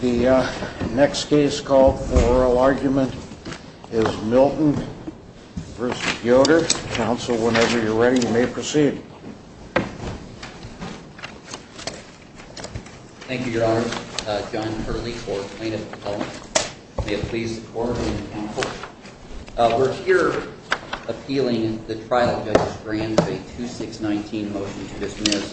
The next case called for oral argument is Milton v. Yoder. Counsel, whenever you're ready, you may proceed. Thank you, Your Honors. John Hurley for plaintiff's atonement. May it please the Court and the Counsel. We're here appealing the trial judge's grant of a 2619 motion to dismiss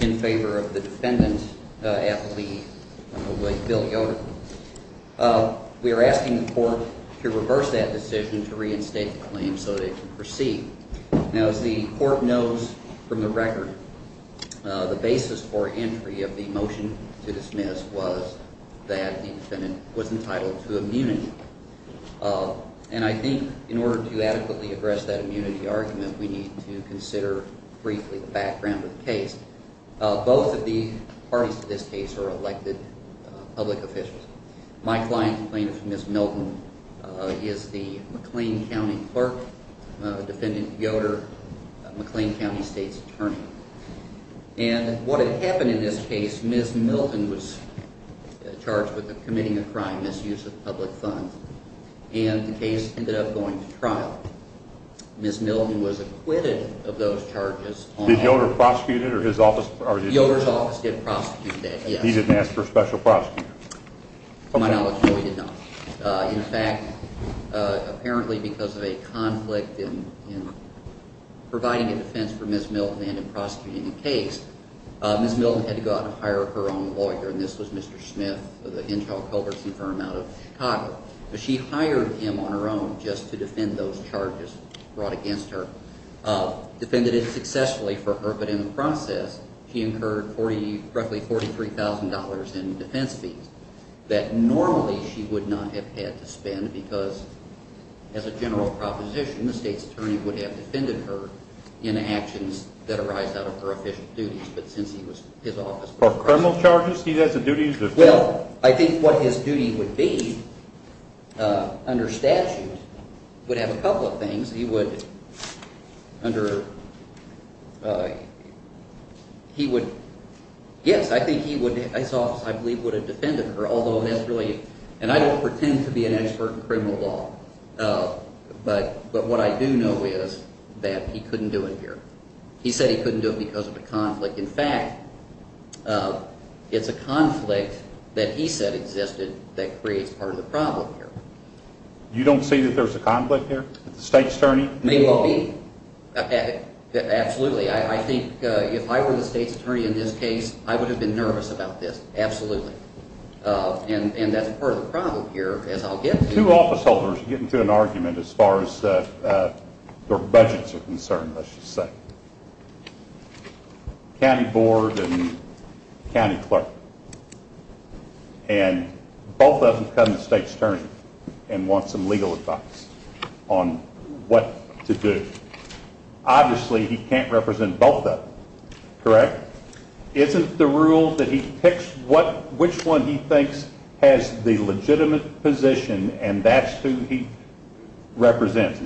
in favor of the defendant at the lead, Bill Yoder. We are asking the Court to reverse that decision to reinstate the claim so that it can proceed. Now, as the Court knows from the record, the basis for entry of the motion to dismiss was that the defendant was entitled to immunity. And I think in order to adequately address that immunity argument, we need to consider briefly the background of the case. Both of the parties to this case are elected public officials. My client and plaintiff, Ms. Milton, is the McLean County clerk, defendant Yoder, McLean County State's attorney. And what had happened in this case, Ms. Milton was charged with committing a crime, misuse of public funds. And the case ended up going to trial. Ms. Milton was acquitted of those charges. Did Yoder prosecute it or his office? Yoder's office did prosecute that, yes. He didn't ask for a special prosecutor. To my knowledge, no, he did not. In fact, apparently because of a conflict in providing a defense for Ms. Milton and in prosecuting the case, Ms. Milton had to go out and hire her own lawyer, and this was Mr. Smith of the Henshaw Culbertson firm out of Chicago. She hired him on her own just to defend those charges brought against her, defended it successfully for her, but in the process, she incurred roughly $43,000 in defense fees that normally she would not have had to spend because, as a general proposition, the State's attorney would have defended her in actions that arise out of her official duties. But since he was his office person. For criminal charges, he has a duty to defend? Well, I think what his duty would be under statute would have a couple of things. He would, yes, I think his office, I believe, would have defended her, although that's really, and I don't pretend to be an expert in criminal law, but what I do know is that he couldn't do it here. He said he couldn't do it because of a conflict. In fact, it's a conflict that he said existed that creates part of the problem here. You don't see that there's a conflict here with the State's attorney? Maybe. Absolutely. I think if I were the State's attorney in this case, I would have been nervous about this. Absolutely. And that's part of the problem here, as I'll get to. Two officeholders get into an argument as far as their budgets are concerned, let's just say. County board and county clerk. And both of them become the State's attorney and want some legal advice on what to do. Obviously, he can't represent both of them, correct? Isn't the rule that he picks which one he thinks has the legitimate position and that's who he represents?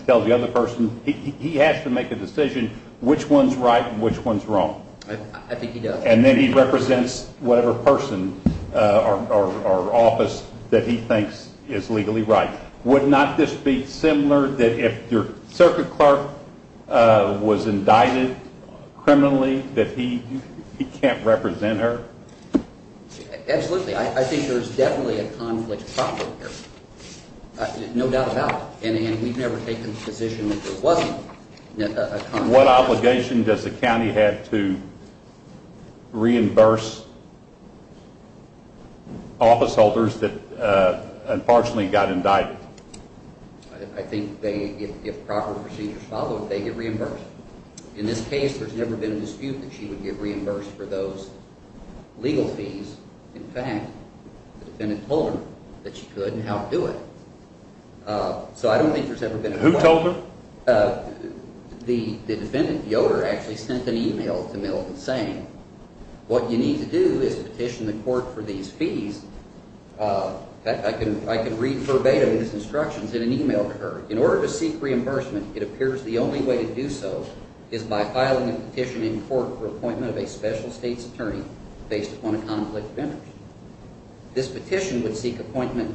He has to make a decision which one's right and which one's wrong. I think he does. And then he represents whatever person or office that he thinks is legally right. Would not this be similar that if your circuit clerk was indicted criminally that he can't represent her? Absolutely. I think there's definitely a conflict of property here, no doubt about it. And we've never taken the position that there wasn't a conflict. What obligation does the county have to reimburse officeholders that unfortunately got indicted? I think if proper procedures followed, they get reimbursed. In this case, there's never been a dispute that she would get reimbursed for those legal fees. In fact, the defendant told her that she could and helped do it. So I don't think there's ever been a conflict. Who told her? The defendant, Yoder, actually sent an email to Milligan saying what you need to do is petition the court for these fees. In fact, I can read verbatim his instructions in an email to her. In order to seek reimbursement, it appears the only way to do so is by filing a petition in court for appointment of a special state's attorney based upon a conflict of interest. This petition would seek appointment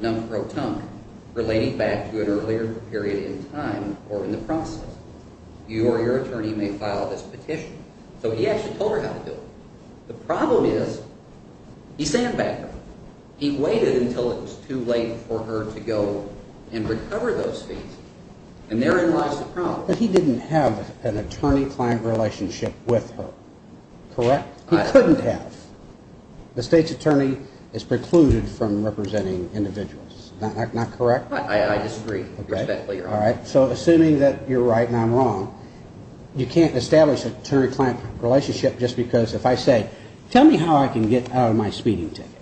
non pro tongue, relating back to an earlier period in time or in the process. You or your attorney may file this petition. So he actually told her how to do it. The problem is he sent it back to her. He waited until it was too late for her to go and recover those fees. And therein lies the problem. But he didn't have an attorney-client relationship with her, correct? He couldn't have. The state's attorney is precluded from representing individuals. Not correct? I disagree. All right. So assuming that you're right and I'm wrong, you can't establish an attorney-client relationship just because if I say tell me how I can get out of my speeding ticket.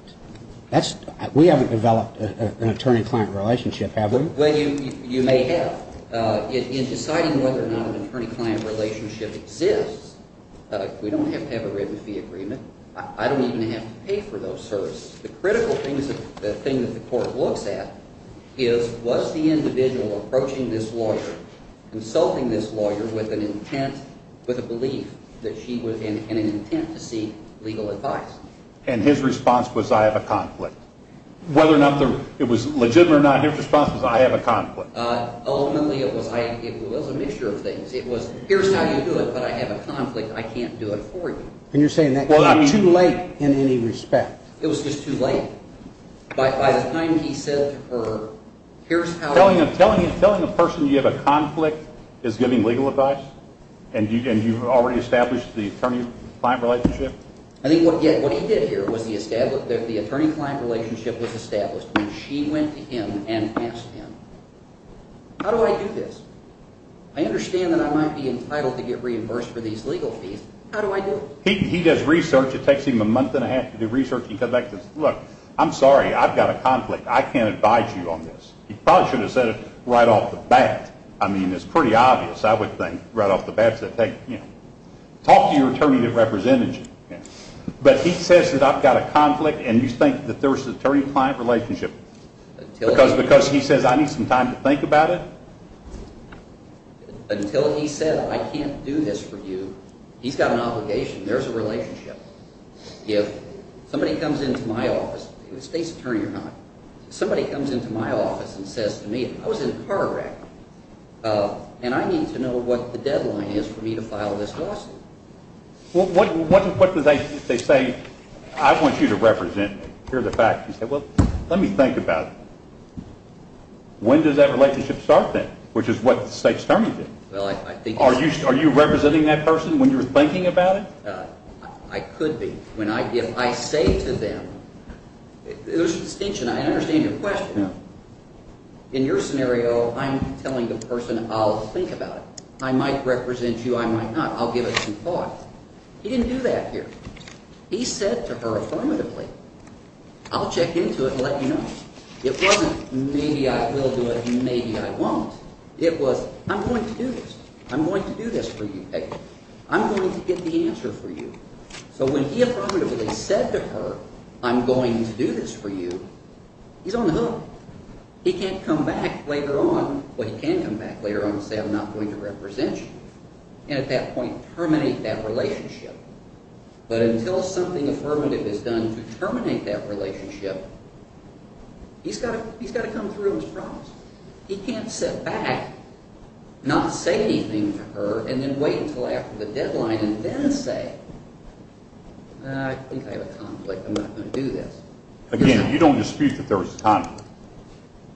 We haven't developed an attorney-client relationship, have we? Well, you may have. In deciding whether or not an attorney-client relationship exists, we don't have to have a written fee agreement. I don't even have to pay for those services. The critical thing that the court looks at is was the individual approaching this lawyer, consulting this lawyer with an intent, with a belief that she was in an intent to seek legal advice. And his response was I have a conflict. Whether or not it was legitimate or not, his response was I have a conflict. Ultimately, it was a mixture of things. It was here's how you do it, but I have a conflict. I can't do it for you. And you're saying that came too late in any respect. It was just too late. By the time he said to her, here's how you do it. Telling a person you have a conflict is giving legal advice? And you've already established the attorney-client relationship? I think what he did here was the attorney-client relationship was established when she went to him and asked him, how do I do this? I understand that I might be entitled to get reimbursed for these legal fees. How do I do it? He does research. It takes him a month and a half to do research. He comes back and says, look, I'm sorry. I've got a conflict. I can't advise you on this. He probably should have said it right off the bat. I mean, it's pretty obvious, I would think, right off the bat. Talk to your attorney that represented you. But he says that I've got a conflict, and you think that there's an attorney-client relationship. Because he says I need some time to think about it? Until he said I can't do this for you, he's got an obligation. There's a relationship. If somebody comes into my office, state's attorney or not, somebody comes into my office and says to me, I was in a car wreck, and I need to know what the deadline is for me to file this lawsuit. What do they say? I want you to represent me. Here's a fact. He said, well, let me think about it. When does that relationship start then, which is what the state's attorney did? Are you representing that person when you're thinking about it? I could be. If I say to them, there's a distinction. I understand your question. In your scenario, I'm telling the person I'll think about it. I might represent you. I might not. I'll give it some thought. He didn't do that here. He said to her affirmatively, I'll check into it and let you know. It wasn't maybe I will do it, maybe I won't. It was I'm going to do this. I'm going to do this for you, Peggy. I'm going to get the answer for you. So when he affirmatively said to her, I'm going to do this for you, he's on the hook. He can't come back later on. Well, he can come back later on and say I'm not going to represent you and at that point terminate that relationship. But until something affirmative is done to terminate that relationship, he's got to come through on his promise. He can't sit back, not say anything to her, and then wait until after the deadline and then say, I think I have a conflict. I'm not going to do this. Again, you don't dispute that there was a conflict.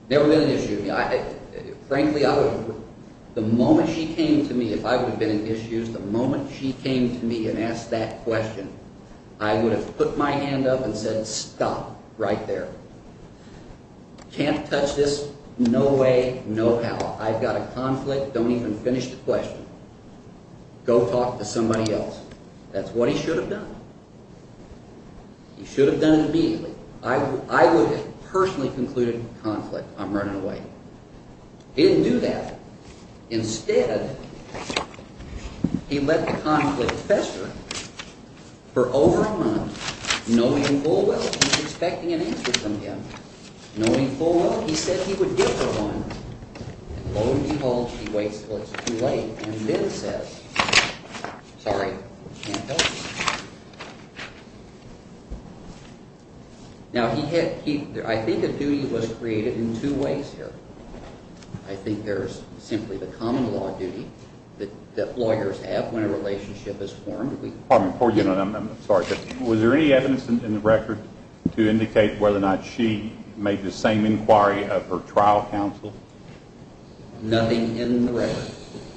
Never been an issue. Frankly, the moment she came to me, if I would have been an issue, the moment she came to me and asked that question, I would have put my hand up and said stop right there. Can't touch this, no way, no how. I've got a conflict, don't even finish the question. Go talk to somebody else. That's what he should have done. He should have done it immediately. I would have personally concluded conflict, I'm running away. He didn't do that. Instead, he let the conflict fester for over a month, knowing full well she was expecting an answer from him. Knowing full well he said he would give her one, and lo and behold, she waits until it's too late, and then says, sorry, can't help you. Now, I think a duty was created in two ways here. I think there's simply the common law duty that lawyers have when a relationship is formed. Pardon me, I'm sorry. Was there any evidence in the record to indicate whether or not she made the same inquiry of her trial counsel? Nothing in the record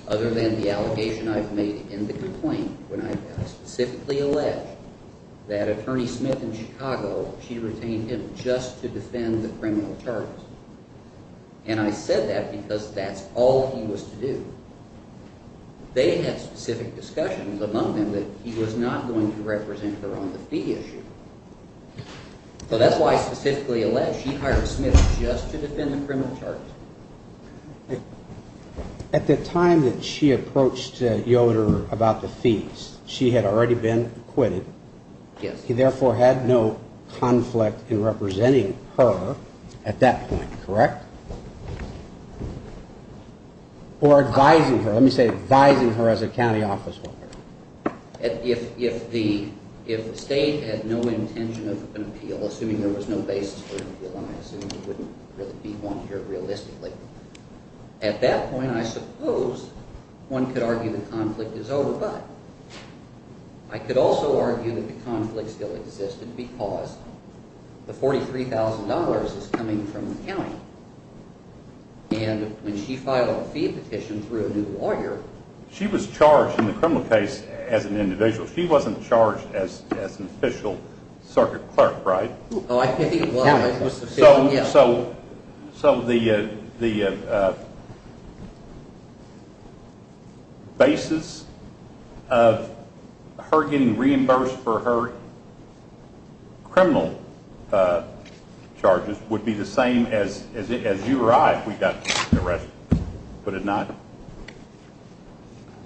other than the allegation I've made in the complaint when I specifically alleged that Attorney Smith in Chicago, she retained him just to defend the criminal charges. And I said that because that's all he was to do. They had specific discussions among them that he was not going to represent her on the fee issue. So that's why I specifically alleged she hired Smith just to defend the criminal charges. At the time that she approached Yoder about the fees, she had already been acquitted. Yes. He therefore had no conflict in representing her at that point, correct? Or advising her. Let me say advising her as a county office worker. If the state had no intention of an appeal, assuming there was no basis for an appeal, and I assume there wouldn't really be one here realistically, at that point I suppose one could argue the conflict is over. But I could also argue that the conflict still existed because the $43,000 is coming from the county. And when she filed a fee petition through a new lawyer. She was charged in the criminal case as an individual. She wasn't charged as an official circuit clerk, right? Oh, I think the county was the official, yes. So the basis of her getting reimbursed for her criminal charges would be the same as you or I if we got arrested, would it not?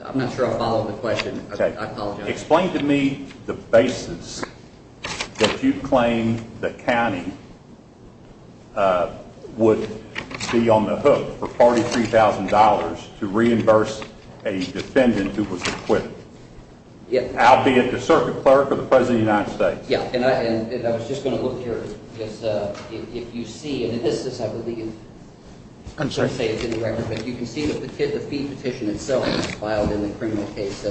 I'm not sure I follow the question. I apologize. Explain to me the basis that you claim the county would be on the hook for $43,000 to reimburse a defendant who was acquitted, albeit the circuit clerk or the President of the United States. Yeah, and I was just going to look here because if you see, and this is, I wouldn't say it's in the record, but you can see the fee petition itself filed in the criminal case.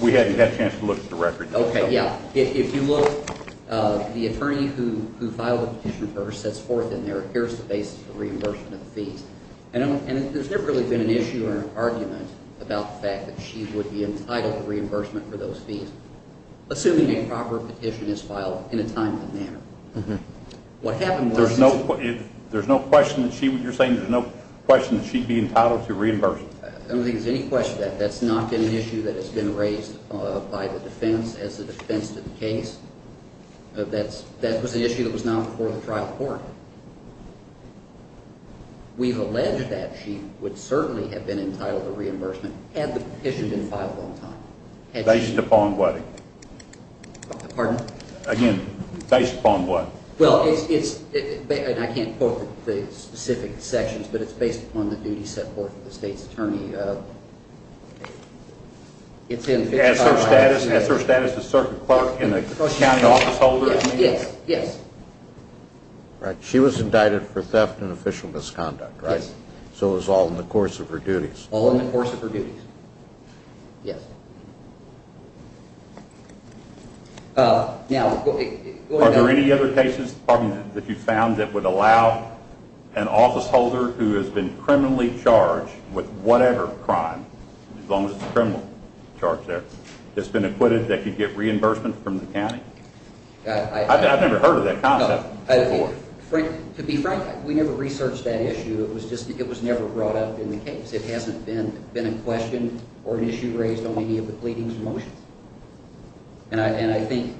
We haven't had a chance to look at the record. Okay, yeah. If you look, the attorney who filed the petition for her sets forth in there, here's the basis for reimbursement of the fees. And there's never really been an issue or an argument about the fact that she would be entitled to reimbursement for those fees, assuming a proper petition is filed in a timely manner. What happened was There's no question that she would, you're saying there's no question that she'd be entitled to reimbursement. I don't think there's any question of that. That's not an issue that has been raised by the defense as a defense to the case. That was an issue that was not before the trial court. We've alleged that she would certainly have been entitled to reimbursement had the petition been filed on time. Based upon what? Pardon? Again, based upon what? Well, it's, and I can't quote the specific sections, but it's based upon the duties set forth by the state's attorney. Is her status a certain clerk and a county officeholder? Yes, yes. She was indicted for theft and official misconduct, right? Yes. So it was all in the course of her duties. All in the course of her duties, yes. Are there any other cases that you've found that would allow an officeholder who has been criminally charged with whatever crime, as long as it's a criminal charge there, that's been acquitted that could get reimbursement from the county? I've never heard of that concept before. To be frank, we never researched that issue. It was just it was never brought up in the case. It hasn't been in question or an issue raised on any of the pleadings and motions. And I think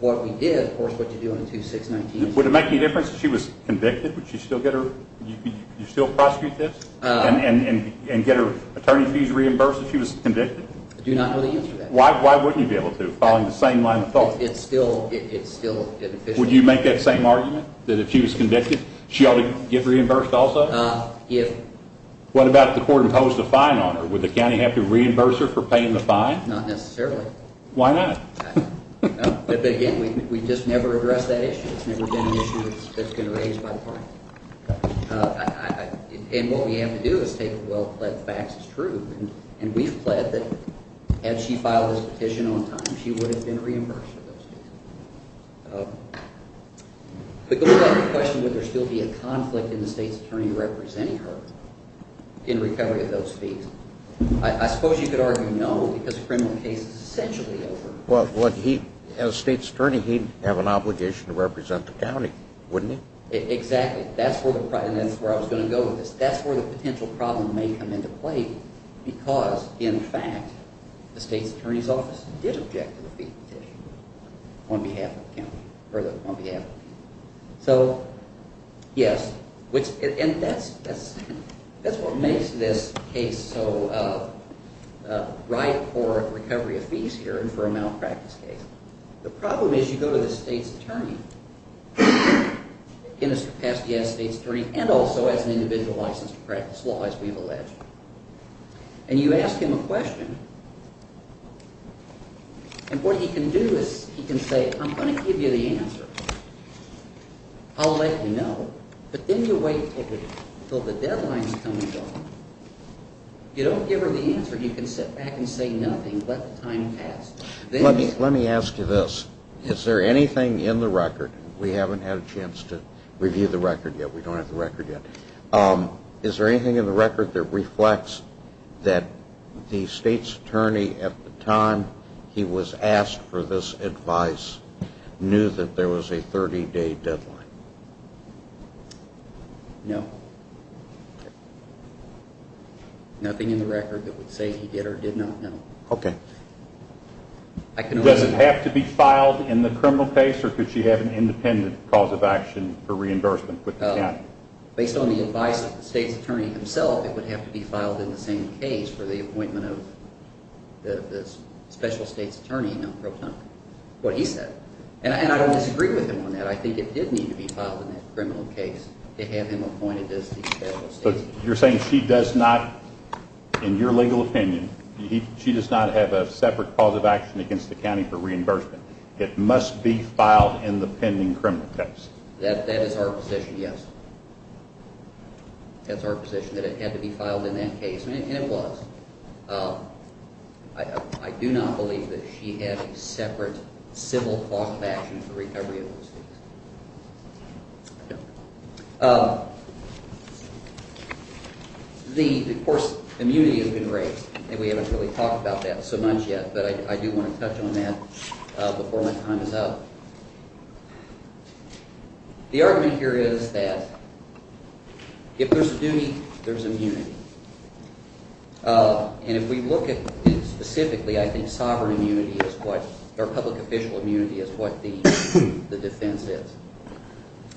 what we did, of course, what you do on the 2619. Would it make any difference if she was convicted? Would you still prosecute this and get her attorney fees reimbursed if she was convicted? I do not know the answer to that. Why wouldn't you be able to, following the same line of thought? It's still an official. Would you make that same argument that if she was convicted, she ought to get reimbursed also? If. What about if the court imposed a fine on her? Would the county have to reimburse her for paying the fine? Not necessarily. Why not? But, again, we just never addressed that issue. It's never been an issue that's been raised by the court. And what we have to do is take a well-pledged fact that's true, and we've pledged that had she filed this petition on time, she would have been reimbursed for those fees. But going back to the question, would there still be a conflict in the state's attorney representing her in recovery of those fees? I suppose you could argue no, because the criminal case is essentially over. As state's attorney, he'd have an obligation to represent the county, wouldn't he? Exactly. That's where I was going to go with this. That's where the potential problem may come into play because, in fact, the state's attorney's office did object to the fee petition on behalf of the county or on behalf of the county. So, yes. And that's what makes this case so right for recovery of fees here and for a malpractice case. The problem is you go to the state's attorney. You can ask the state's attorney, and also as an individual licensed to practice law, as we've alleged, and you ask him a question, and what he can do is he can say, I'm going to give you the answer. I'll let you know, but then you wait until the deadline is coming up. If you don't give her the answer, you can sit back and say nothing. Let me ask you this. Is there anything in the record? We haven't had a chance to review the record yet. We don't have the record yet. Is there anything in the record that reflects that the state's attorney, at the time he was asked for this advice, knew that there was a 30-day deadline? No. Nothing in the record that would say he did or did not know. Okay. Does it have to be filed in the criminal case, or could she have an independent cause of action for reimbursement? Based on the advice of the state's attorney himself, it would have to be filed in the same case for the appointment of the special state's attorney, what he said. And I don't disagree with him on that. I think it did need to be filed in that criminal case to have him appointed as the special state's attorney. You're saying she does not, in your legal opinion, she does not have a separate cause of action against the county for reimbursement. It must be filed in the pending criminal case. That is our position, yes. That's our position, that it had to be filed in that case, and it was. I do not believe that she had a separate civil cause of action for recovery of those things. Of course, immunity has been raised, and we haven't really talked about that so much yet, but I do want to touch on that before my time is up. The argument here is that if there's duty, there's immunity. And if we look at it specifically, I think sovereign immunity is what – or public official immunity is what the defense is.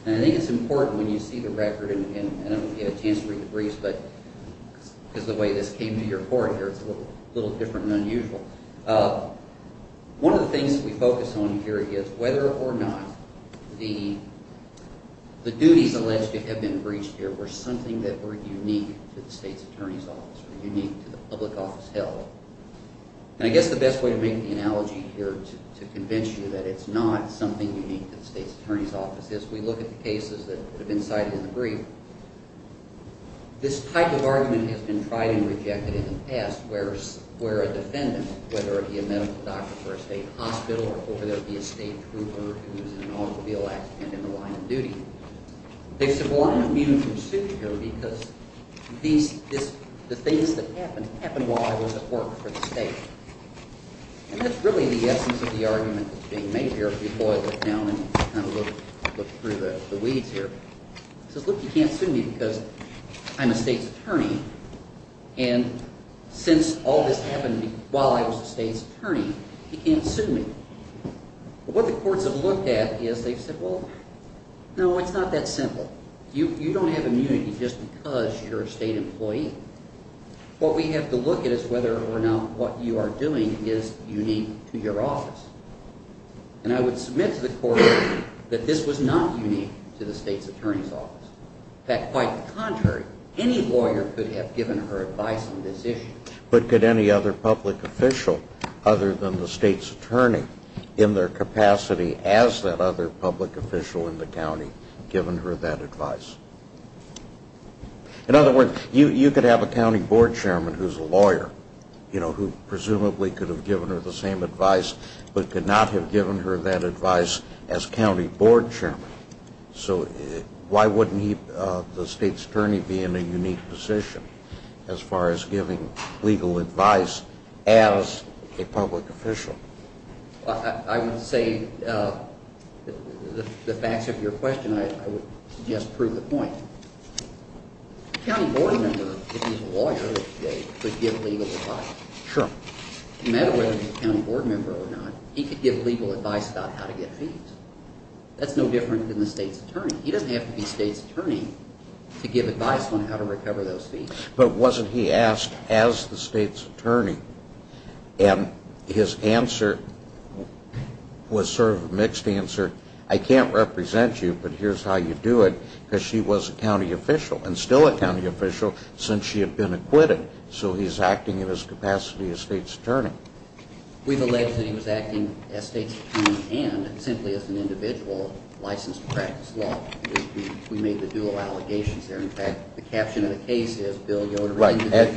And I think it's important when you see the record, and I don't get a chance to read the briefs, but because of the way this came to your court here, it's a little different and unusual. One of the things that we focus on here is whether or not the duties alleged to have been breached here were something that were unique to the state's attorney's office or unique to the public office held. And I guess the best way to make the analogy here is to convince you that it's not something unique to the state's attorney's office. As we look at the cases that have been cited in the brief, this type of argument has been tried and rejected in the past where a defendant, whether it be a medical doctor for a state hospital or whether it be a state trooper who's in an automobile accident in the line of duty, they've said, well, I'm immune from suit here because the things that happened happened while I was at work for the state. And that's really the essence of the argument that's being made here before I look down and kind of look through the weeds here. It says, look, you can't sue me because I'm a state's attorney, and since all this happened while I was a state's attorney, you can't sue me. What the courts have looked at is they've said, well, no, it's not that simple. You don't have immunity just because you're a state employee. What we have to look at is whether or not what you are doing is unique to your office. And I would submit to the court that this was not unique to the state's attorney's office. In fact, quite the contrary, any lawyer could have given her advice on this issue. But could any other public official other than the state's attorney in their capacity as that other public official in the county given her that advice? In other words, you could have a county board chairman who's a lawyer, you know, who presumably could have given her the same advice but could not have given her that advice as county board chairman. So why wouldn't the state's attorney be in a unique position as far as giving legal advice as a public official? I would say the facts of your question, I would suggest, prove the point. A county board member, if he's a lawyer, could give legal advice. Sure. No matter whether he's a county board member or not, he could give legal advice about how to get fees. That's no different than the state's attorney. He doesn't have to be state's attorney to give advice on how to recover those fees. But wasn't he asked as the state's attorney? And his answer was sort of a mixed answer. I can't represent you, but here's how you do it, because she was a county official and still a county official since she had been acquitted. So he's acting in his capacity as state's attorney. We've alleged that he was acting as state's attorney and simply as an individual licensed to practice law. We made the dual allegations there. In fact, the caption of the case is Bill Yoder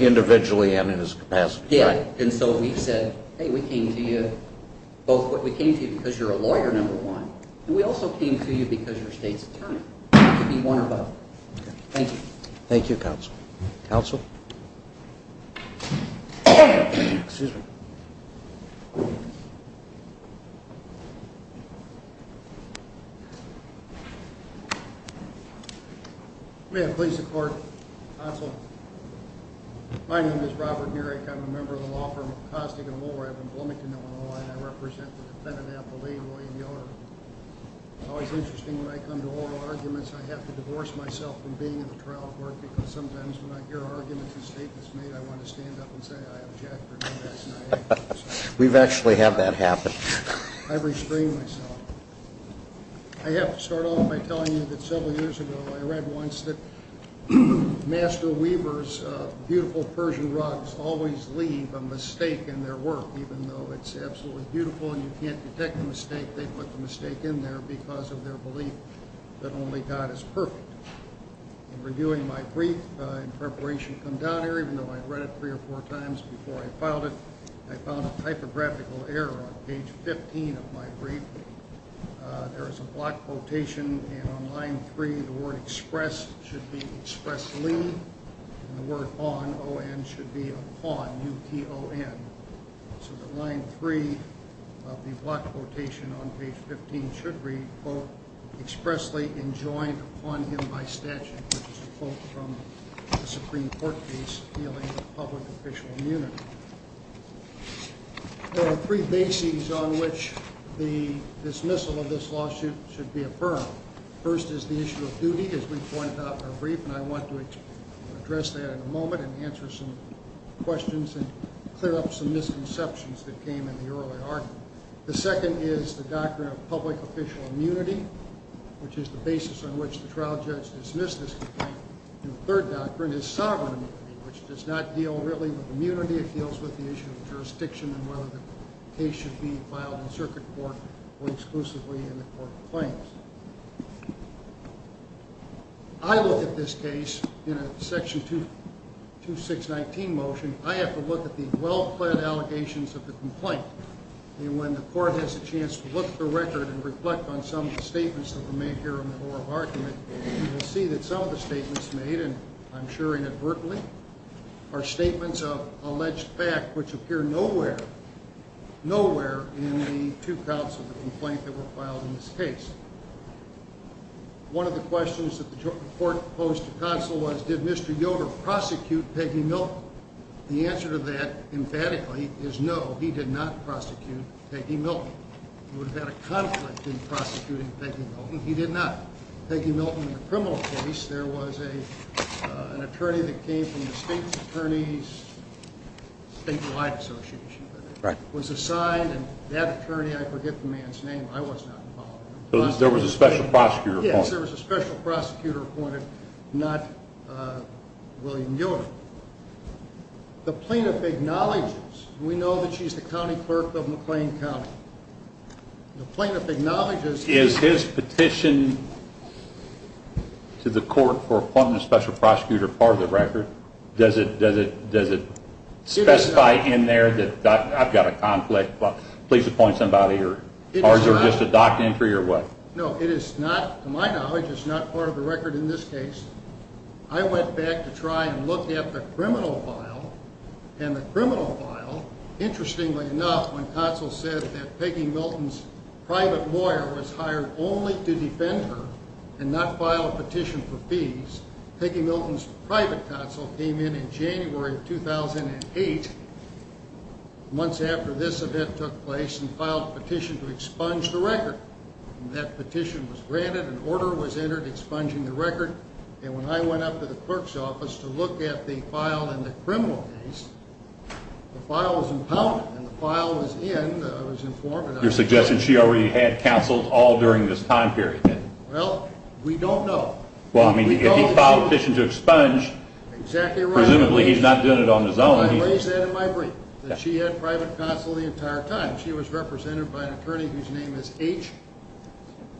individually and in his capacity. And so we've said, hey, we came to you both because you're a lawyer, number one, and we also came to you because you're state's attorney. It could be one or both. Thank you. Thank you, counsel. Counsel? Excuse me. May I please report, counsel? My name is Robert Murek. I'm a member of the law firm of Costigan & Woolworth in Bloomington, Illinois, and I represent the defendant, Apple Lee, William Yoder. It's always interesting when I come to oral arguments, I have to divorce myself from being in the trial court, because sometimes when I hear arguments and statements made, I want to stand up and say, I object, or do this, and I have to. We've actually had that happen. I restrain myself. I have to start off by telling you that several years ago I read once that Master Weaver's beautiful Persian rugs always leave a mistake in their work. Even though it's absolutely beautiful and you can't detect a mistake, they put the mistake in there because of their belief that only God is perfect. In reviewing my brief, in preparation to come down here, even though I read it three or four times before I filed it, I found a typographical error on page 15 of my brief. There is a block quotation, and on line three, the word express should be expressly, and the word on, O-N, should be upon, U-P-O-N. So the line three of the block quotation on page 15 should read, quote, expressly enjoined upon him by statute, which is a quote from the Supreme Court case dealing with public official immunity. There are three bases on which the dismissal of this lawsuit should be affirmed. First is the issue of duty, as we pointed out in our brief, and I want to address that in a moment and answer some questions and clear up some misconceptions that came in the early argument. The second is the doctrine of public official immunity, which is the basis on which the trial judge dismissed this complaint. And the third doctrine is sovereign immunity, which does not deal really with immunity. It deals with the issue of jurisdiction and whether the case should be filed in circuit court or exclusively in the court of claims. I look at this case in a section 2619 motion. I have to look at the well-planned allegations of the complaint, and when the court has a chance to look at the record and reflect on some of the statements that were made here in the oral argument, you will see that some of the statements made, and I'm assuring advertly, are statements of alleged fact which appear nowhere, nowhere in the two counts of the complaint that were filed in this case. One of the questions that the court posed to counsel was, did Mr. Yoder prosecute Peggy Milton? The answer to that, emphatically, is no, he did not prosecute Peggy Milton. He would have had a conflict in prosecuting Peggy Milton. He did not. Peggy Milton, in the criminal case, there was an attorney that came from the state's attorneys, statewide association, was assigned, and that attorney, I forget the man's name, I was not involved. So there was a special prosecutor appointed. Yes, there was a special prosecutor appointed, not William Yoder. The plaintiff acknowledges, and we know that she's the county clerk of McLean County, the plaintiff acknowledges Is his petition to the court for appointing a special prosecutor part of the record? Does it specify in there, I've got a conflict, please appoint somebody, or is it just a doc entry or what? No, it is not, to my knowledge, it is not part of the record in this case. I went back to try and look at the criminal file, and the criminal file, interestingly enough, when counsel said that Peggy Milton's private lawyer was hired only to defend her and not file a petition for fees, Peggy Milton's private counsel came in in January of 2008, months after this event took place, and filed a petition to expunge the record. That petition was granted, an order was entered expunging the record, and when I went up to the clerk's office to look at the file in the criminal case, the file was impounded, and the file was in, I was informed. Your suggestion, she already had counsels all during this time period. Well, we don't know. Well, I mean, if he filed a petition to expunge, presumably he's not doing it on his own. I raised that in my brief, that she had private counsel the entire time. She was represented by an attorney whose name is H,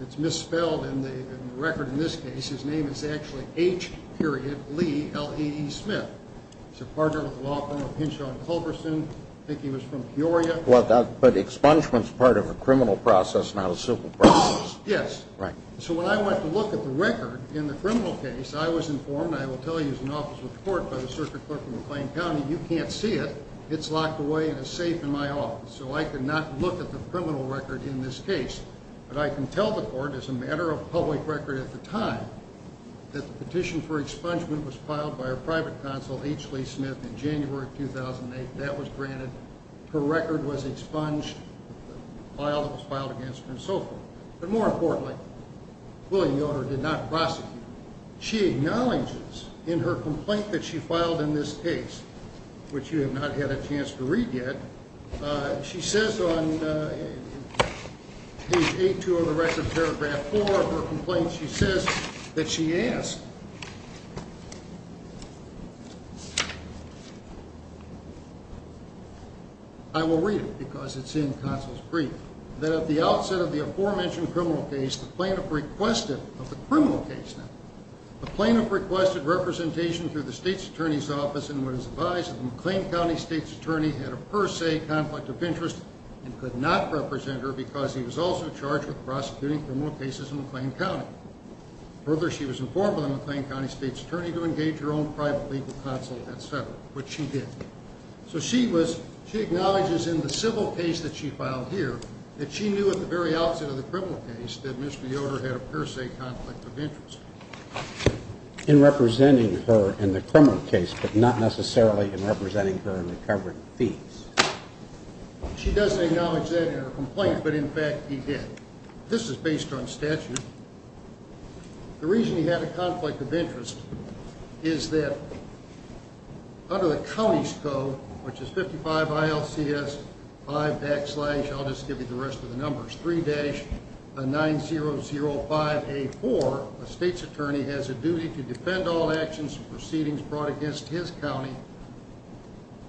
it's misspelled in the record in this case. His name is actually H. Lee, L-E-E Smith. He's a partner with the law firm of Hinshaw and Culberson. I think he was from Peoria. Well, but expungement's part of a criminal process, not a civil process. Yes. Right. So when I went to look at the record in the criminal case, I was informed, and I will tell you as an officer of the court by the circuit clerk in McLean County, you can't see it. It's locked away in a safe in my office, so I could not look at the criminal record in this case. But I can tell the court, as a matter of public record at the time, that the petition for expungement was filed by her private counsel, H. Lee Smith, in January of 2008. That was granted. Her record was expunged. The file that was filed against her and so forth. But more importantly, William Yoder did not prosecute her. She acknowledges in her complaint that she filed in this case, which you have not had a chance to read yet, she says on page 8-2 of the rest of paragraph 4 of her complaint, she says that she asked, I will read it because it's in counsel's brief, that at the outset of the aforementioned criminal case, the plaintiff requested, of the criminal case now, the plaintiff requested representation through the state's attorney's office and was advised that the McLean County state's attorney had a per se conflict of interest and could not represent her because he was also charged with prosecuting criminal cases in McLean County. Further, she was informed by the McLean County state's attorney to engage her own private legal counsel, et cetera, which she did. So she was, she acknowledges in the civil case that she filed here that she knew at the very outset of the criminal case that Mr. Yoder had a per se conflict of interest. In representing her in the criminal case, but not necessarily in representing her in the covering fees. She doesn't acknowledge that in her complaint, but in fact, he did. This is based on statute. The reason he had a conflict of interest is that under the county's code, which is 55 ILCS 5 backslash, I'll just give you the rest of the numbers, 3-9005A4, a state's attorney has a duty to defend all actions and proceedings brought against his county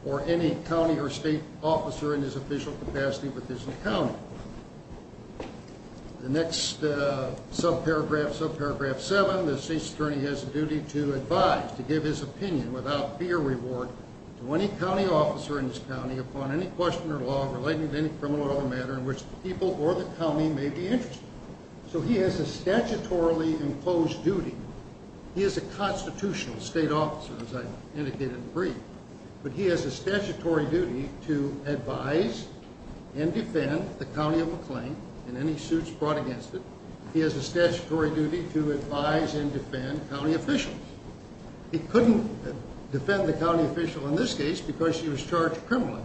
or any county or state officer in his official capacity with his county. The next subparagraph, subparagraph 7, the state's attorney has a duty to advise, to give his opinion without fear or reward, to any county officer in his county upon any question or law relating to any criminal or other matter in which the people or the county may be interested. So he has a statutorily enclosed duty. He is a constitutional state officer, as I indicated in the brief. But he has a statutory duty to advise and defend the county of McLean and any suits brought against it. He has a statutory duty to advise and defend county officials. He couldn't defend the county official in this case because she was charged criminally.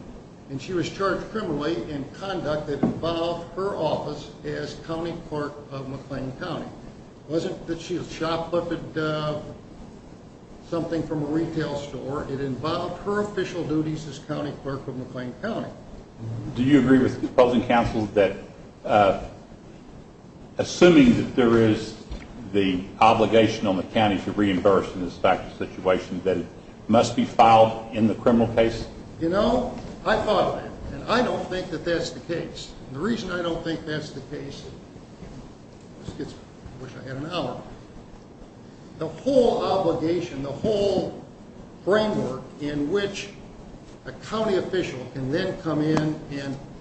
And she was charged criminally in conduct that involved her office as county clerk of McLean County. It wasn't that she had shoplifted something from a retail store. It involved her official duties as county clerk of McLean County. Do you agree with the opposing counsel that assuming that there is the obligation on the county to reimburse in this type of situation that it must be filed in the criminal case? You know, I thought of it, and I don't think that that's the case. And the reason I don't think that's the case is because I wish I had an hour. The whole obligation, the whole framework in which a county official can then come in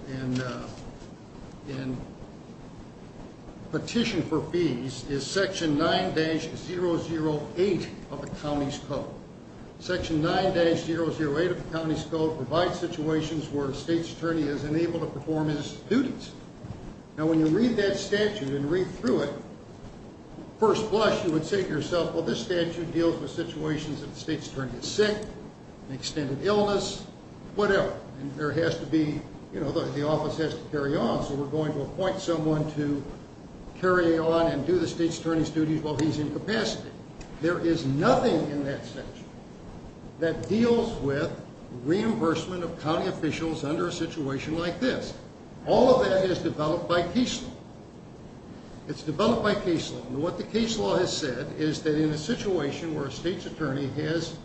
and petition for fees is Section 9-008 of the county's code. Section 9-008 of the county's code provides situations where a state's attorney is unable to perform his duties. Now, when you read that statute and read through it, first blush, you would say to yourself, well, this statute deals with situations that the state's attorney is sick, an extended illness, whatever. And there has to be, you know, the office has to carry on, so we're going to appoint someone to carry on and do the state's attorney's duties while he's incapacitated. There is nothing in that statute that deals with reimbursement of county officials under a situation like this. All of that is developed by case law. It's developed by case law. And what the case law has said is that in a situation where a state's attorney has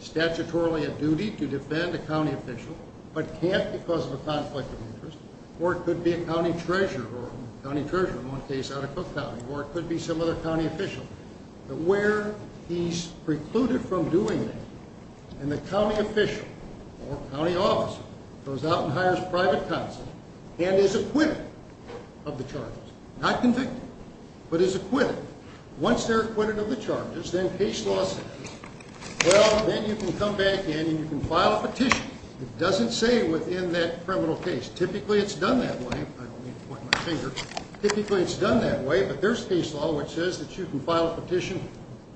statutorily a duty to defend a county official but can't because of a conflict of interest, or it could be a county treasurer, or a county treasurer in one case out of Cook County, or it could be some other county official, but where he's precluded from doing that and the county official or county officer goes out and hires a private counsel and is acquitted of the charges, not convicted, but is acquitted, once they're acquitted of the charges, then case law says, well, then you can come back in and you can file a petition. It doesn't say within that criminal case. Typically it's done that way. I don't mean to point my finger. Typically it's done that way, but there's case law which says that you can file a petition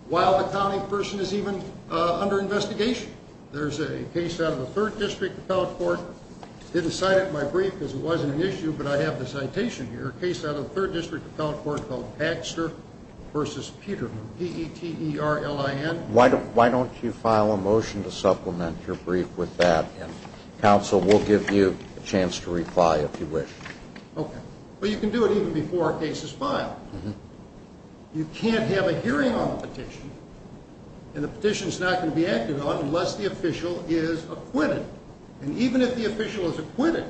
while the county person is even under investigation. There's a case out of the 3rd District Appellate Court. I didn't cite it in my brief because it wasn't an issue, but I have the citation here. A case out of the 3rd District Appellate Court called Baxter v. Peterman, P-E-T-E-R-L-I-N. Why don't you file a motion to supplement your brief with that, and counsel, we'll give you a chance to reply if you wish. Okay. Well, you can do it even before a case is filed. You can't have a hearing on the petition, and the petition's not going to be acted on unless the official is acquitted. And even if the official is acquitted,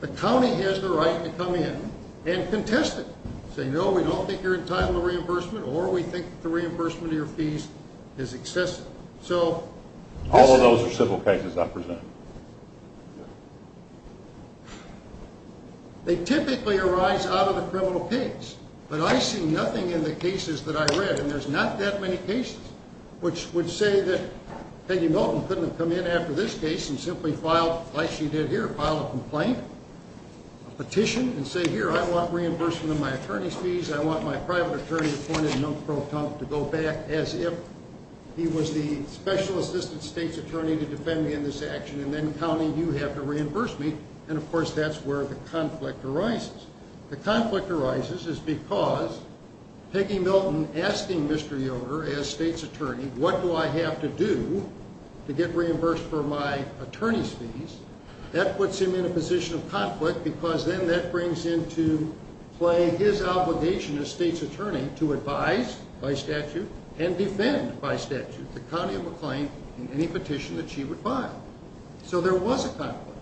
the county has the right to come in and contest it, and say, no, we don't think you're entitled to reimbursement, or we think the reimbursement of your fees is excessive. All of those are civil cases I present. They typically arise out of the criminal case, but I see nothing in the cases that I read, and there's not that many cases which would say that Peggy Milton couldn't have come in after this case and simply filed, like she did here, filed a complaint, a petition, and say, here, I want reimbursement of my attorney's fees, I want my private attorney appointed, Milton Proton, to go back as if he was the special assistant state's attorney to defend me in this action, and then the county, you have to reimburse me. And, of course, that's where the conflict arises. The conflict arises is because Peggy Milton asking Mr. Yoder, as state's attorney, what do I have to do to get reimbursed for my attorney's fees, that puts him in a position of conflict because then that brings into play his obligation as state's attorney to advise, by statute, and defend, by statute, the county of McLean in any petition that she would file. So there was a conflict,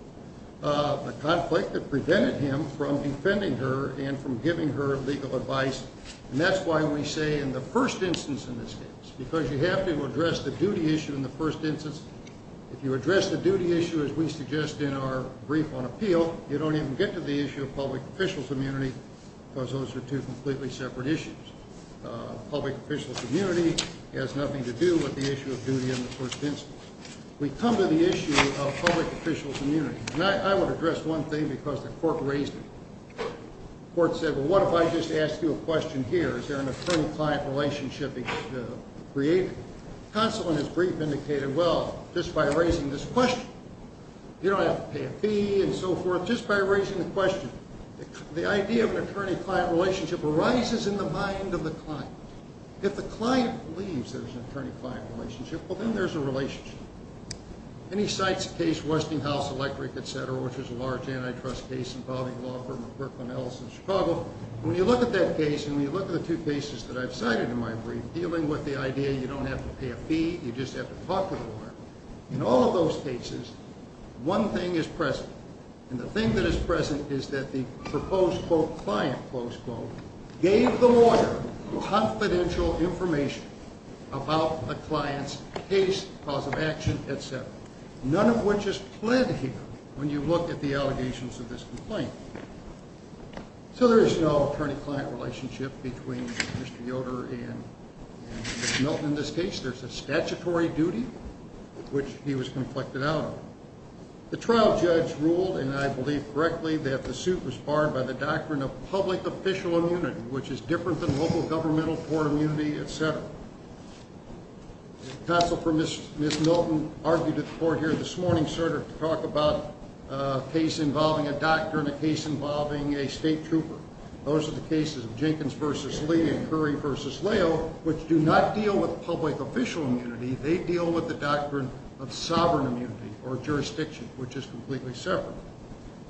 a conflict that prevented him from defending her and from giving her legal advice, and that's why we say in the first instance in this case, because you have to address the duty issue in the first instance. If you address the duty issue, as we suggest in our brief on appeal, you don't even get to the issue of public official's immunity because those are two completely separate issues. Public official's immunity has nothing to do with the issue of duty in the first instance. We come to the issue of public official's immunity. And I want to address one thing because the court raised it. The court said, well, what if I just ask you a question here? Is there an attorney-client relationship created? Counsel in his brief indicated, well, just by raising this question, you don't have to pay a fee and so forth, just by raising the question. The idea of an attorney-client relationship arises in the mind of the client. If the client believes there's an attorney-client relationship, well, then there's a relationship. And he cites a case, Westinghouse Electric, et cetera, which is a large antitrust case involving law firm of Brooklyn, Ellison, Chicago. When you look at that case and you look at the two cases that I've cited in my brief, dealing with the idea you don't have to pay a fee, you just have to talk to the lawyer, in all of those cases, one thing is present, and the thing that is present is that the proposed, quote, client, close quote, gave the lawyer confidential information about the client's case, cause of action, et cetera, none of which is pled here when you look at the allegations of this complaint. So there is no attorney-client relationship between Mr. Yoder and Ms. Milton in this case. There's a statutory duty, which he was conflicted out of. The trial judge ruled, and I believe correctly, that the suit was barred by the doctrine of public official immunity, which is different than local governmental court immunity, et cetera. The counsel for Ms. Milton argued at the court here this morning, sir, to talk about a case involving a doctor and a case involving a state trooper. Those are the cases of Jenkins v. Lee and Curry v. Leo, which do not deal with public official immunity. They deal with the doctrine of sovereign immunity or jurisdiction, which is completely separate.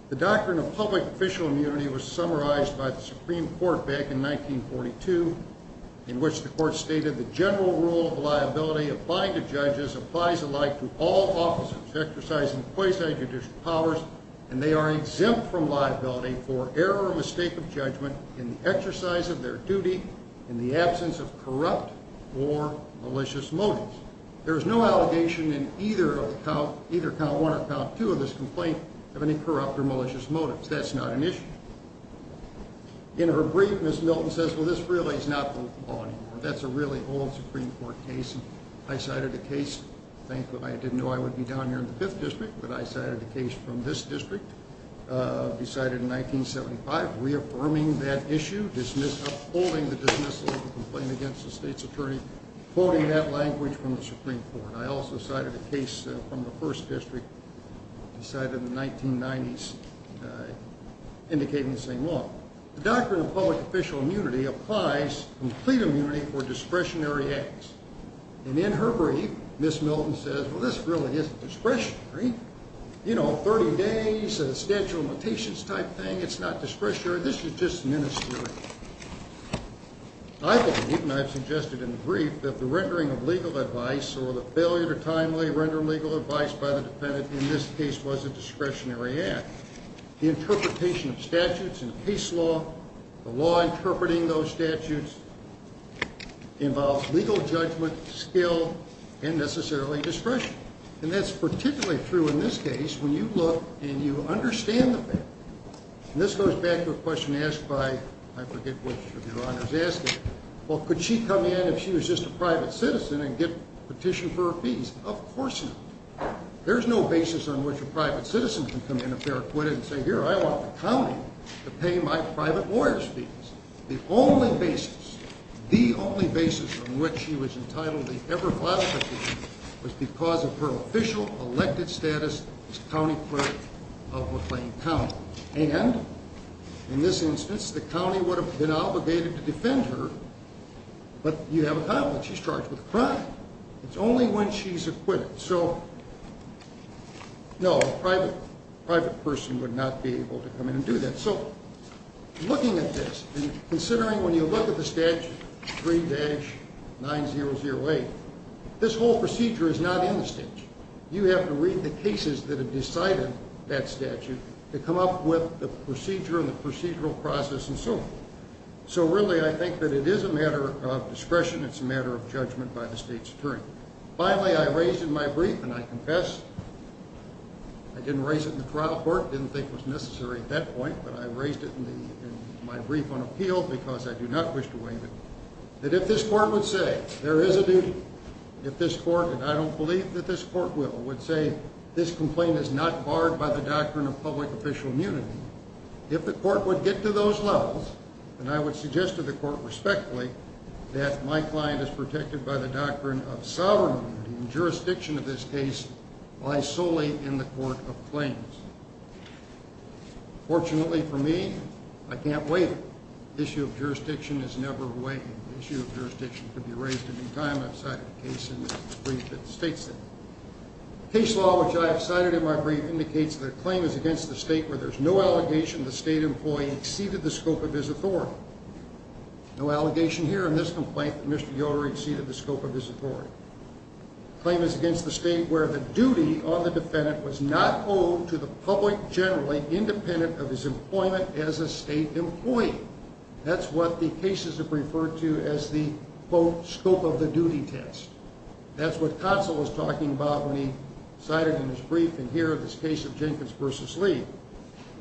The doctrine of public official immunity was summarized by the Supreme Court back in 1942, in which the court stated the general rule of liability of binded judges applies alike to all officers exercising quasi-judicial powers, and they are exempt from liability for error or mistake of judgment in the exercise of their duty in the absence of corrupt or malicious motives. There is no allegation in either count one or count two of this complaint of any corrupt or malicious motives. That's not an issue. In her brief, Ms. Milton says, well, this really is not the law anymore. That's a really old Supreme Court case. I cited a case. Thankfully, I didn't know I would be down here in the Fifth District, but I cited a case from this district, decided in 1975, reaffirming that issue, upholding the dismissal of the complaint against the state's attorney, quoting that language from the Supreme Court. I also cited a case from the First District, decided in the 1990s, indicating the same law. The doctrine of public official immunity applies complete immunity for discretionary acts. And in her brief, Ms. Milton says, well, this really isn't discretionary. You know, 30 days, a statute of limitations type thing, it's not discretionary. This is just ministerial. I believe, and I've suggested in the brief, that the rendering of legal advice or the failure to timely render legal advice by the defendant in this case was a discretionary act. The interpretation of statutes and case law, the law interpreting those statutes, involves legal judgment, skill, and necessarily discretion. And that's particularly true in this case when you look and you understand the fact. And this goes back to a question asked by, I forget which of your honors asked it, well, could she come in if she was just a private citizen and get petitioned for her fees? Of course not. There's no basis on which a private citizen can come in if they're acquitted and say, here, I want the county to pay my private lawyer's fees. The only basis, the only basis on which she was entitled to ever file a petition was because of her official elected status as county clerk of McLean County. And in this instance, the county would have been obligated to defend her, but you have a problem. She's charged with a crime. It's only when she's acquitted. So, no, a private person would not be able to come in and do that. So, looking at this and considering when you look at the statute, 3-9008, this whole procedure is not in the statute. You have to read the cases that have decided that statute to come up with the procedure and the procedural process and so on. So, really, I think that it is a matter of discretion. It's a matter of judgment by the state's attorney. Finally, I raised in my brief, and I confess, I didn't raise it in the trial court, didn't think it was necessary at that point, but I raised it in my brief on appeal because I do not wish to waive it, that if this court would say there is a duty, if this court, and I don't believe that this court will, would say this complaint is not barred by the doctrine of public official immunity, if the court would get to those levels, then I would suggest to the court respectfully that my client is protected by the doctrine of sovereign immunity and jurisdiction of this case lies solely in the court of claims. Fortunately for me, I can't waive it. The issue of jurisdiction is never waived. The issue of jurisdiction can be raised any time I've cited a case in this brief that states that. The case law which I have cited in my brief indicates that a claim is against the state where there is no allegation the state employee exceeded the scope of his authority. No allegation here in this complaint that Mr. Yoder exceeded the scope of his authority. The claim is against the state where the duty on the defendant was not owed to the public generally, independent of his employment as a state employee. That's what the cases have referred to as the, quote, scope of the duty test. That's what Kotzel was talking about when he cited in his brief and here in this case of Jenkins v. Lee.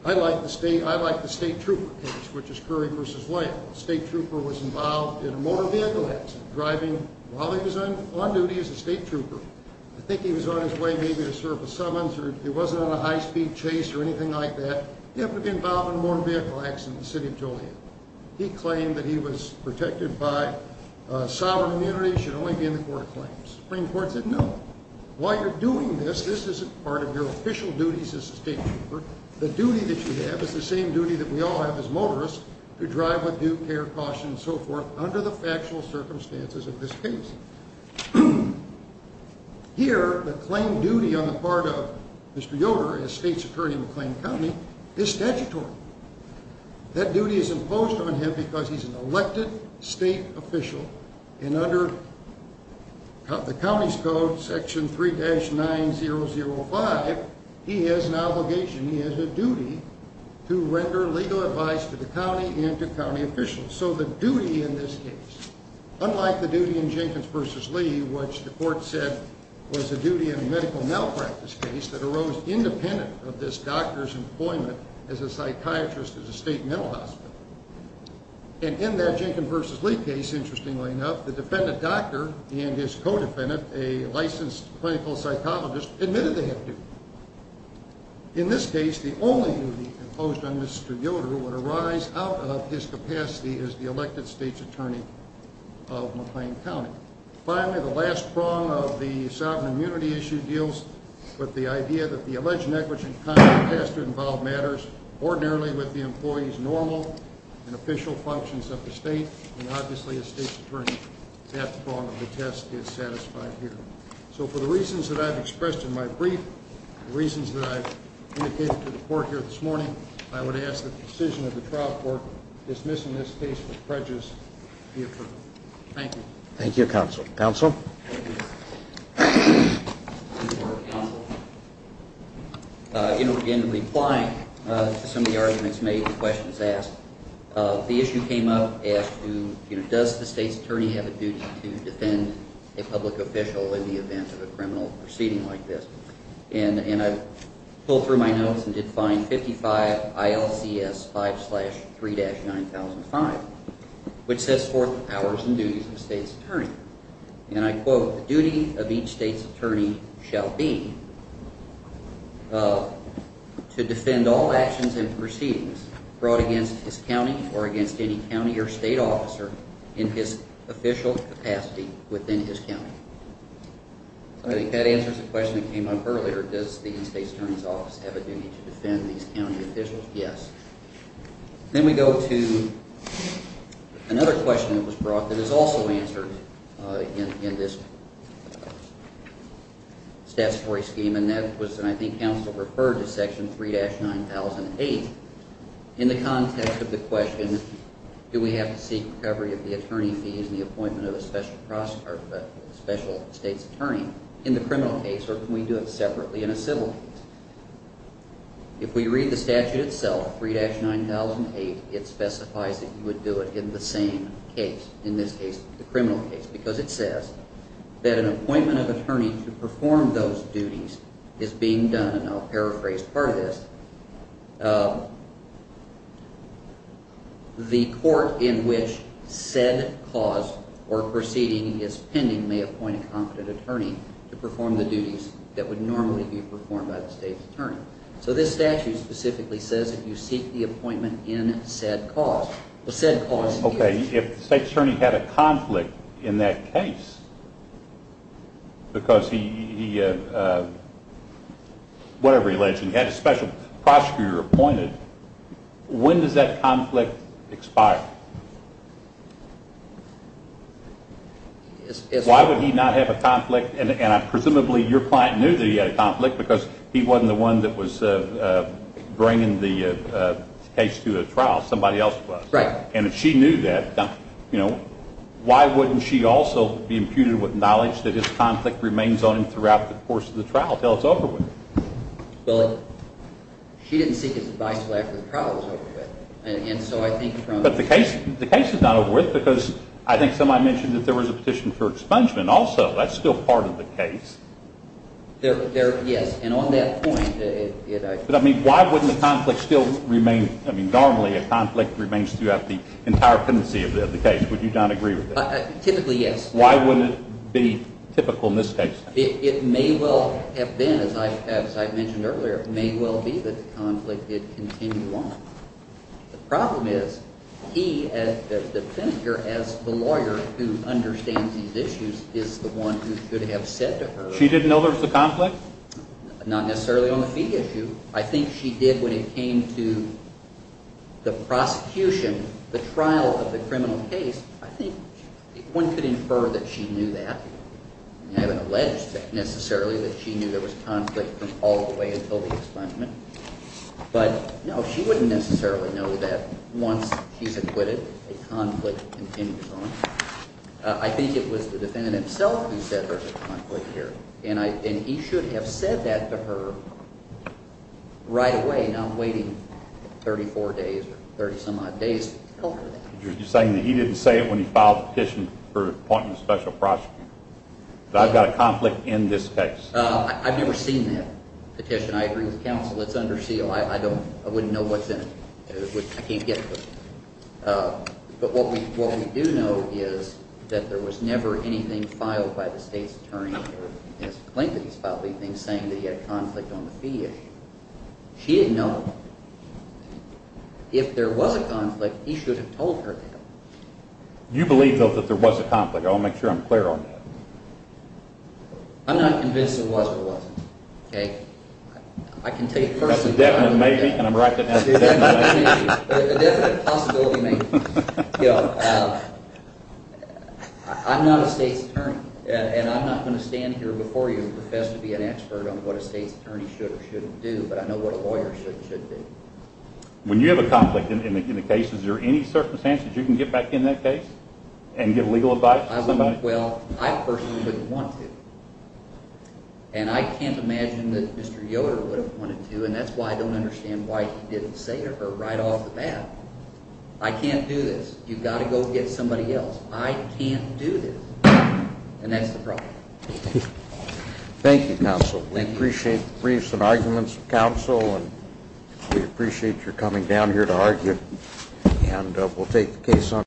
I like the state trooper case, which is Curry v. White. The state trooper was involved in a motor vehicle accident, driving while he was on duty as a state trooper. I think he was on his way maybe to serve a summons or he wasn't on a high-speed chase or anything like that. He happened to be involved in a motor vehicle accident in the city of Joliet. He claimed that he was protected by sovereign immunity. It should only be in the court of claims. The Supreme Court said no. While you're doing this, this isn't part of your official duties as a state trooper. The duty that you have is the same duty that we all have as motorists, to drive with due care, caution, and so forth under the factual circumstances of this case. Here, the claim duty on the part of Mr. Yoder as state's attorney in McLean County is statutory. That duty is imposed on him because he's an elected state official and under the county's code, Section 3-9005, he has an obligation, he has a duty to render legal advice to the county and to county officials. So the duty in this case, unlike the duty in Jenkins v. Lee, which the court said was a duty in a medical malpractice case that arose independent of this doctor's employment as a psychiatrist at a state mental hospital. And in that Jenkins v. Lee case, interestingly enough, the defendant doctor and his co-defendant, a licensed clinical psychologist, admitted they had a duty. In this case, the only duty imposed on Mr. Yoder would arise out of his capacity as the elected state's attorney of McLean County. Finally, the last prong of the sovereign immunity issue deals with the idea that the alleged negligent conduct has to involve matters ordinarily with the employee's normal and official functions of the state. And obviously, as state's attorney, that prong of the test is satisfied here. So for the reasons that I've expressed in my brief, the reasons that I've indicated to the court here this morning, I would ask that the decision of the trial court dismissing this case with prejudice be approved. Thank you. Thank you, Counsel. Counsel? Thank you. Thank you, Counsel. In replying to some of the arguments made and questions asked, the issue came up as to, you know, does the state's attorney have a duty to defend a public official in the event of a criminal proceeding like this? And I pulled through my notes and did find 55 ILCS 5-3-9005, and I quote, the duty of each state's attorney shall be to defend all actions and proceedings brought against his county or against any county or state officer in his official capacity within his county. I think that answers the question that came up earlier. Does the state's attorney's office have a duty to defend these county officials? Yes. Then we go to another question that was brought that is also answered in this statutory scheme, and that was, and I think Counsel referred to Section 3-9008, in the context of the question, do we have to seek recovery of the attorney fees and the appointment of a special state's attorney in the criminal case, or can we do it separately in a civil case? If we read the statute itself, 3-9008, it specifies that you would do it in the same case, in this case, the criminal case, because it says that an appointment of an attorney to perform those duties is being done, and I'll paraphrase part of this. The court in which said cause or proceeding is pending may appoint a competent attorney to perform the duties that would normally be performed by the state's attorney. So this statute specifically says that you seek the appointment in said cause. Okay, if the state's attorney had a conflict in that case because he, whatever he alleged, he had a special prosecutor appointed, when does that conflict expire? Why would he not have a conflict, and presumably your client knew that he had a conflict because he wasn't the one that was bringing the case to a trial, somebody else was. Right. And if she knew that, you know, why wouldn't she also be imputed with knowledge that his conflict remains on him throughout the course of the trial until it's over with? Well, she didn't seek his advice until after the trial was over with, and so I think from But the case is not over with because I think somebody mentioned that there was a petition for expungement also. That's still part of the case. Yes, and on that point, it I think But, I mean, why wouldn't the conflict still remain, I mean, normally a conflict remains throughout the entire pendency of the case. Would you not agree with that? Typically, yes. Why wouldn't it be typical in this case? It may well have been, as I mentioned earlier, it may well be that the conflict did continue on. The problem is he, the defendant here, as the lawyer who understands these issues, is the one who should have said to her She didn't know there was a conflict? Not necessarily on the fee issue. I think she did when it came to the prosecution, the trial of the criminal case. I think one could infer that she knew that. I haven't alleged necessarily that she knew there was conflict from all the way until the expungement. But, no, she wouldn't necessarily know that once she's acquitted, a conflict continues on. I think it was the defendant himself who said there's a conflict here. And he should have said that to her right away, not waiting 34 days or 30 some odd days to tell her that. You're saying that he didn't say it when he filed the petition for appointing a special prosecutor. I've got a conflict in this case. I've never seen that petition. I agree with the counsel. It's under seal. I wouldn't know what's in it. I can't get to it. But what we do know is that there was never anything filed by the state's attorney or his claim that he's filed anything saying that he had a conflict on the fee issue. She didn't know. If there was a conflict, he should have told her that. You believe, though, that there was a conflict. I want to make sure I'm clear on that. I'm not convinced there was or wasn't. That's a definite maybe, and I'm right to say that's a definite maybe. A definite possibility maybe. I'm not a state's attorney, and I'm not going to stand here before you and profess to be an expert on what a state's attorney should or shouldn't do, but I know what a lawyer should and shouldn't do. When you have a conflict in the case, is there any circumstances you can get back in that case and give legal advice to somebody? Well, I personally wouldn't want to, and I can't imagine that Mr. Yoder would have wanted to, and that's why I don't understand why he didn't say to her right off the bat, I can't do this, you've got to go get somebody else. I can't do this. And that's the problem. Thank you, counsel. We appreciate the briefs and arguments of counsel, and we appreciate your coming down here to argue, and we'll take the case on.